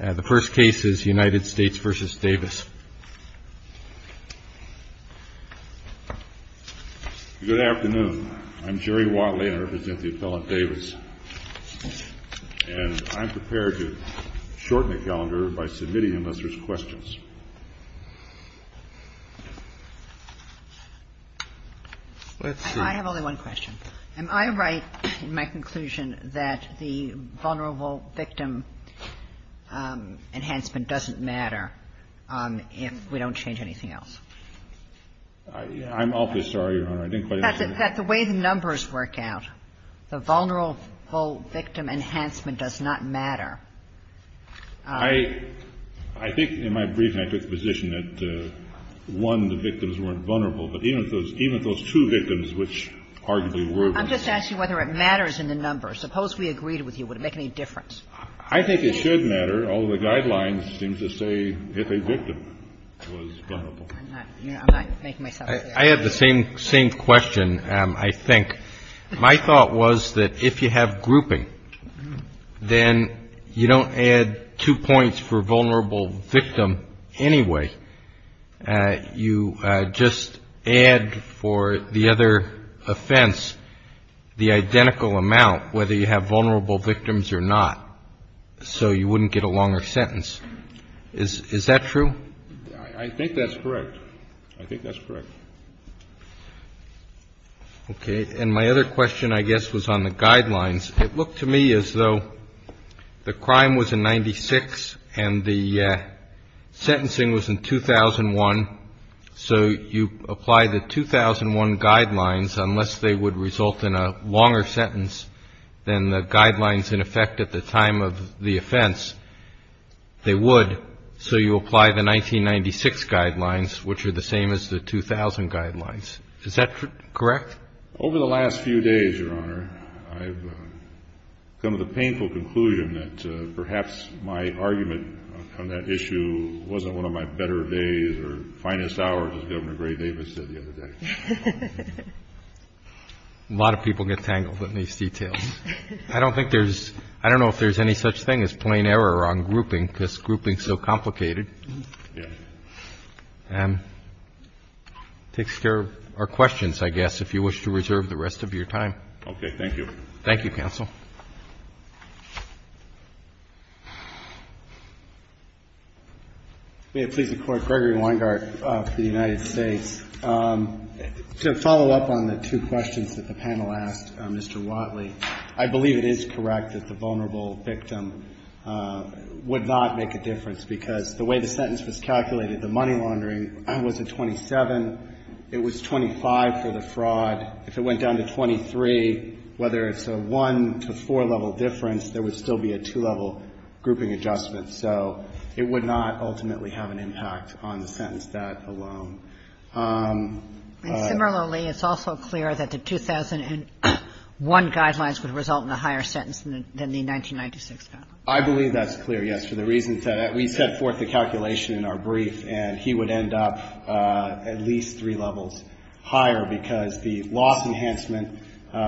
The first case is United States v. DAVIS. Good afternoon. I'm Jerry Watley. I represent the appellant, DAVIS. And I'm prepared to shorten the calendar by submitting a list of questions. I have only one question. Am I right in my conclusion that the vulnerable victim enhancement doesn't matter if we don't change anything else? I'm awfully sorry, Your Honor. That the way the numbers work out, the vulnerable victim enhancement does not matter. I think in my briefing I took the position that, one, the victims weren't vulnerable, but even those two victims which arguably were vulnerable. I'm just asking whether it matters in the numbers. Suppose we agreed with you. Would it make any difference? I think it should matter. All the guidelines seem to say if a victim was vulnerable. I'm not making myself clear. I have the same question, I think. My thought was that if you have grouping, then you don't add two points for vulnerable victim anyway. You just add for the other offense the identical amount, whether you have vulnerable victims or not. So you wouldn't get a longer sentence. Is that true? I think that's correct. I think that's correct. Okay. And my other question, I guess, was on the guidelines. It looked to me as though the crime was in 96 and the sentencing was in 2001, so you apply the 2001 guidelines unless they would result in a longer sentence than the guidelines in effect at the time of the offense. They would, so you apply the 1996 guidelines, which are the same as the 2000 guidelines. Is that correct? Over the last few days, Your Honor, I've come to the painful conclusion that perhaps my argument on that issue wasn't one of my better days or finest hours, as Governor Gray Davis said the other day. A lot of people get tangled in these details. I don't think there's any such thing as plain error on grouping because grouping is so complicated. It takes care of our questions, I guess, if you wish to reserve the rest of your time. Okay. Thank you. Thank you, counsel. May it please the Court, Gregory Weingart of the United States. To follow up on the two questions that the panel asked Mr. Watley, I believe it is correct that the vulnerable victim would not make a difference because the way the sentence was calculated, the money laundering was a 27. It was 25 for the fraud. If it went down to 23, whether it's a one- to four-level difference, there would still be a two-level grouping adjustment. So it would not ultimately have an impact on the sentence that alone. And similarly, it's also clear that the 2001 guidelines would result in a higher sentence than the 1996 guidelines. I believe that's clear, yes, for the reasons that we set forth the calculation in our brief, and he would end up at least three levels higher because the loss enhancement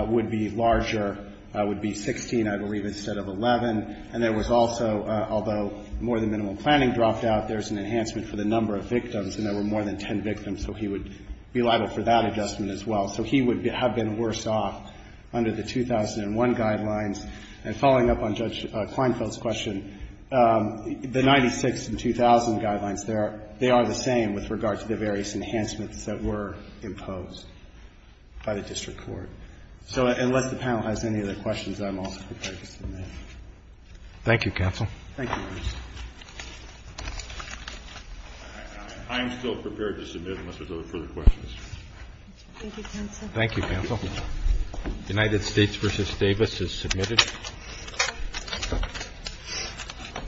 would be larger, would be 16, I believe, instead of 11. And there was also, although more than minimum planning dropped out, there's an enhancement for the number of victims, and there were more than ten victims, so he would be liable for that adjustment as well. So he would have been worse off under the 2001 guidelines. And following up on Judge Kleinfeld's question, the 1996 and 2000 guidelines, they are the same with regard to the various enhancements that were imposed by the district court. So unless the panel has any other questions, I'm also prepared to submit. Roberts. Thank you, counsel. Thank you. I'm still prepared to submit unless there's other further questions. Thank you, counsel. Thank you, counsel. United States v. Davis is submitted.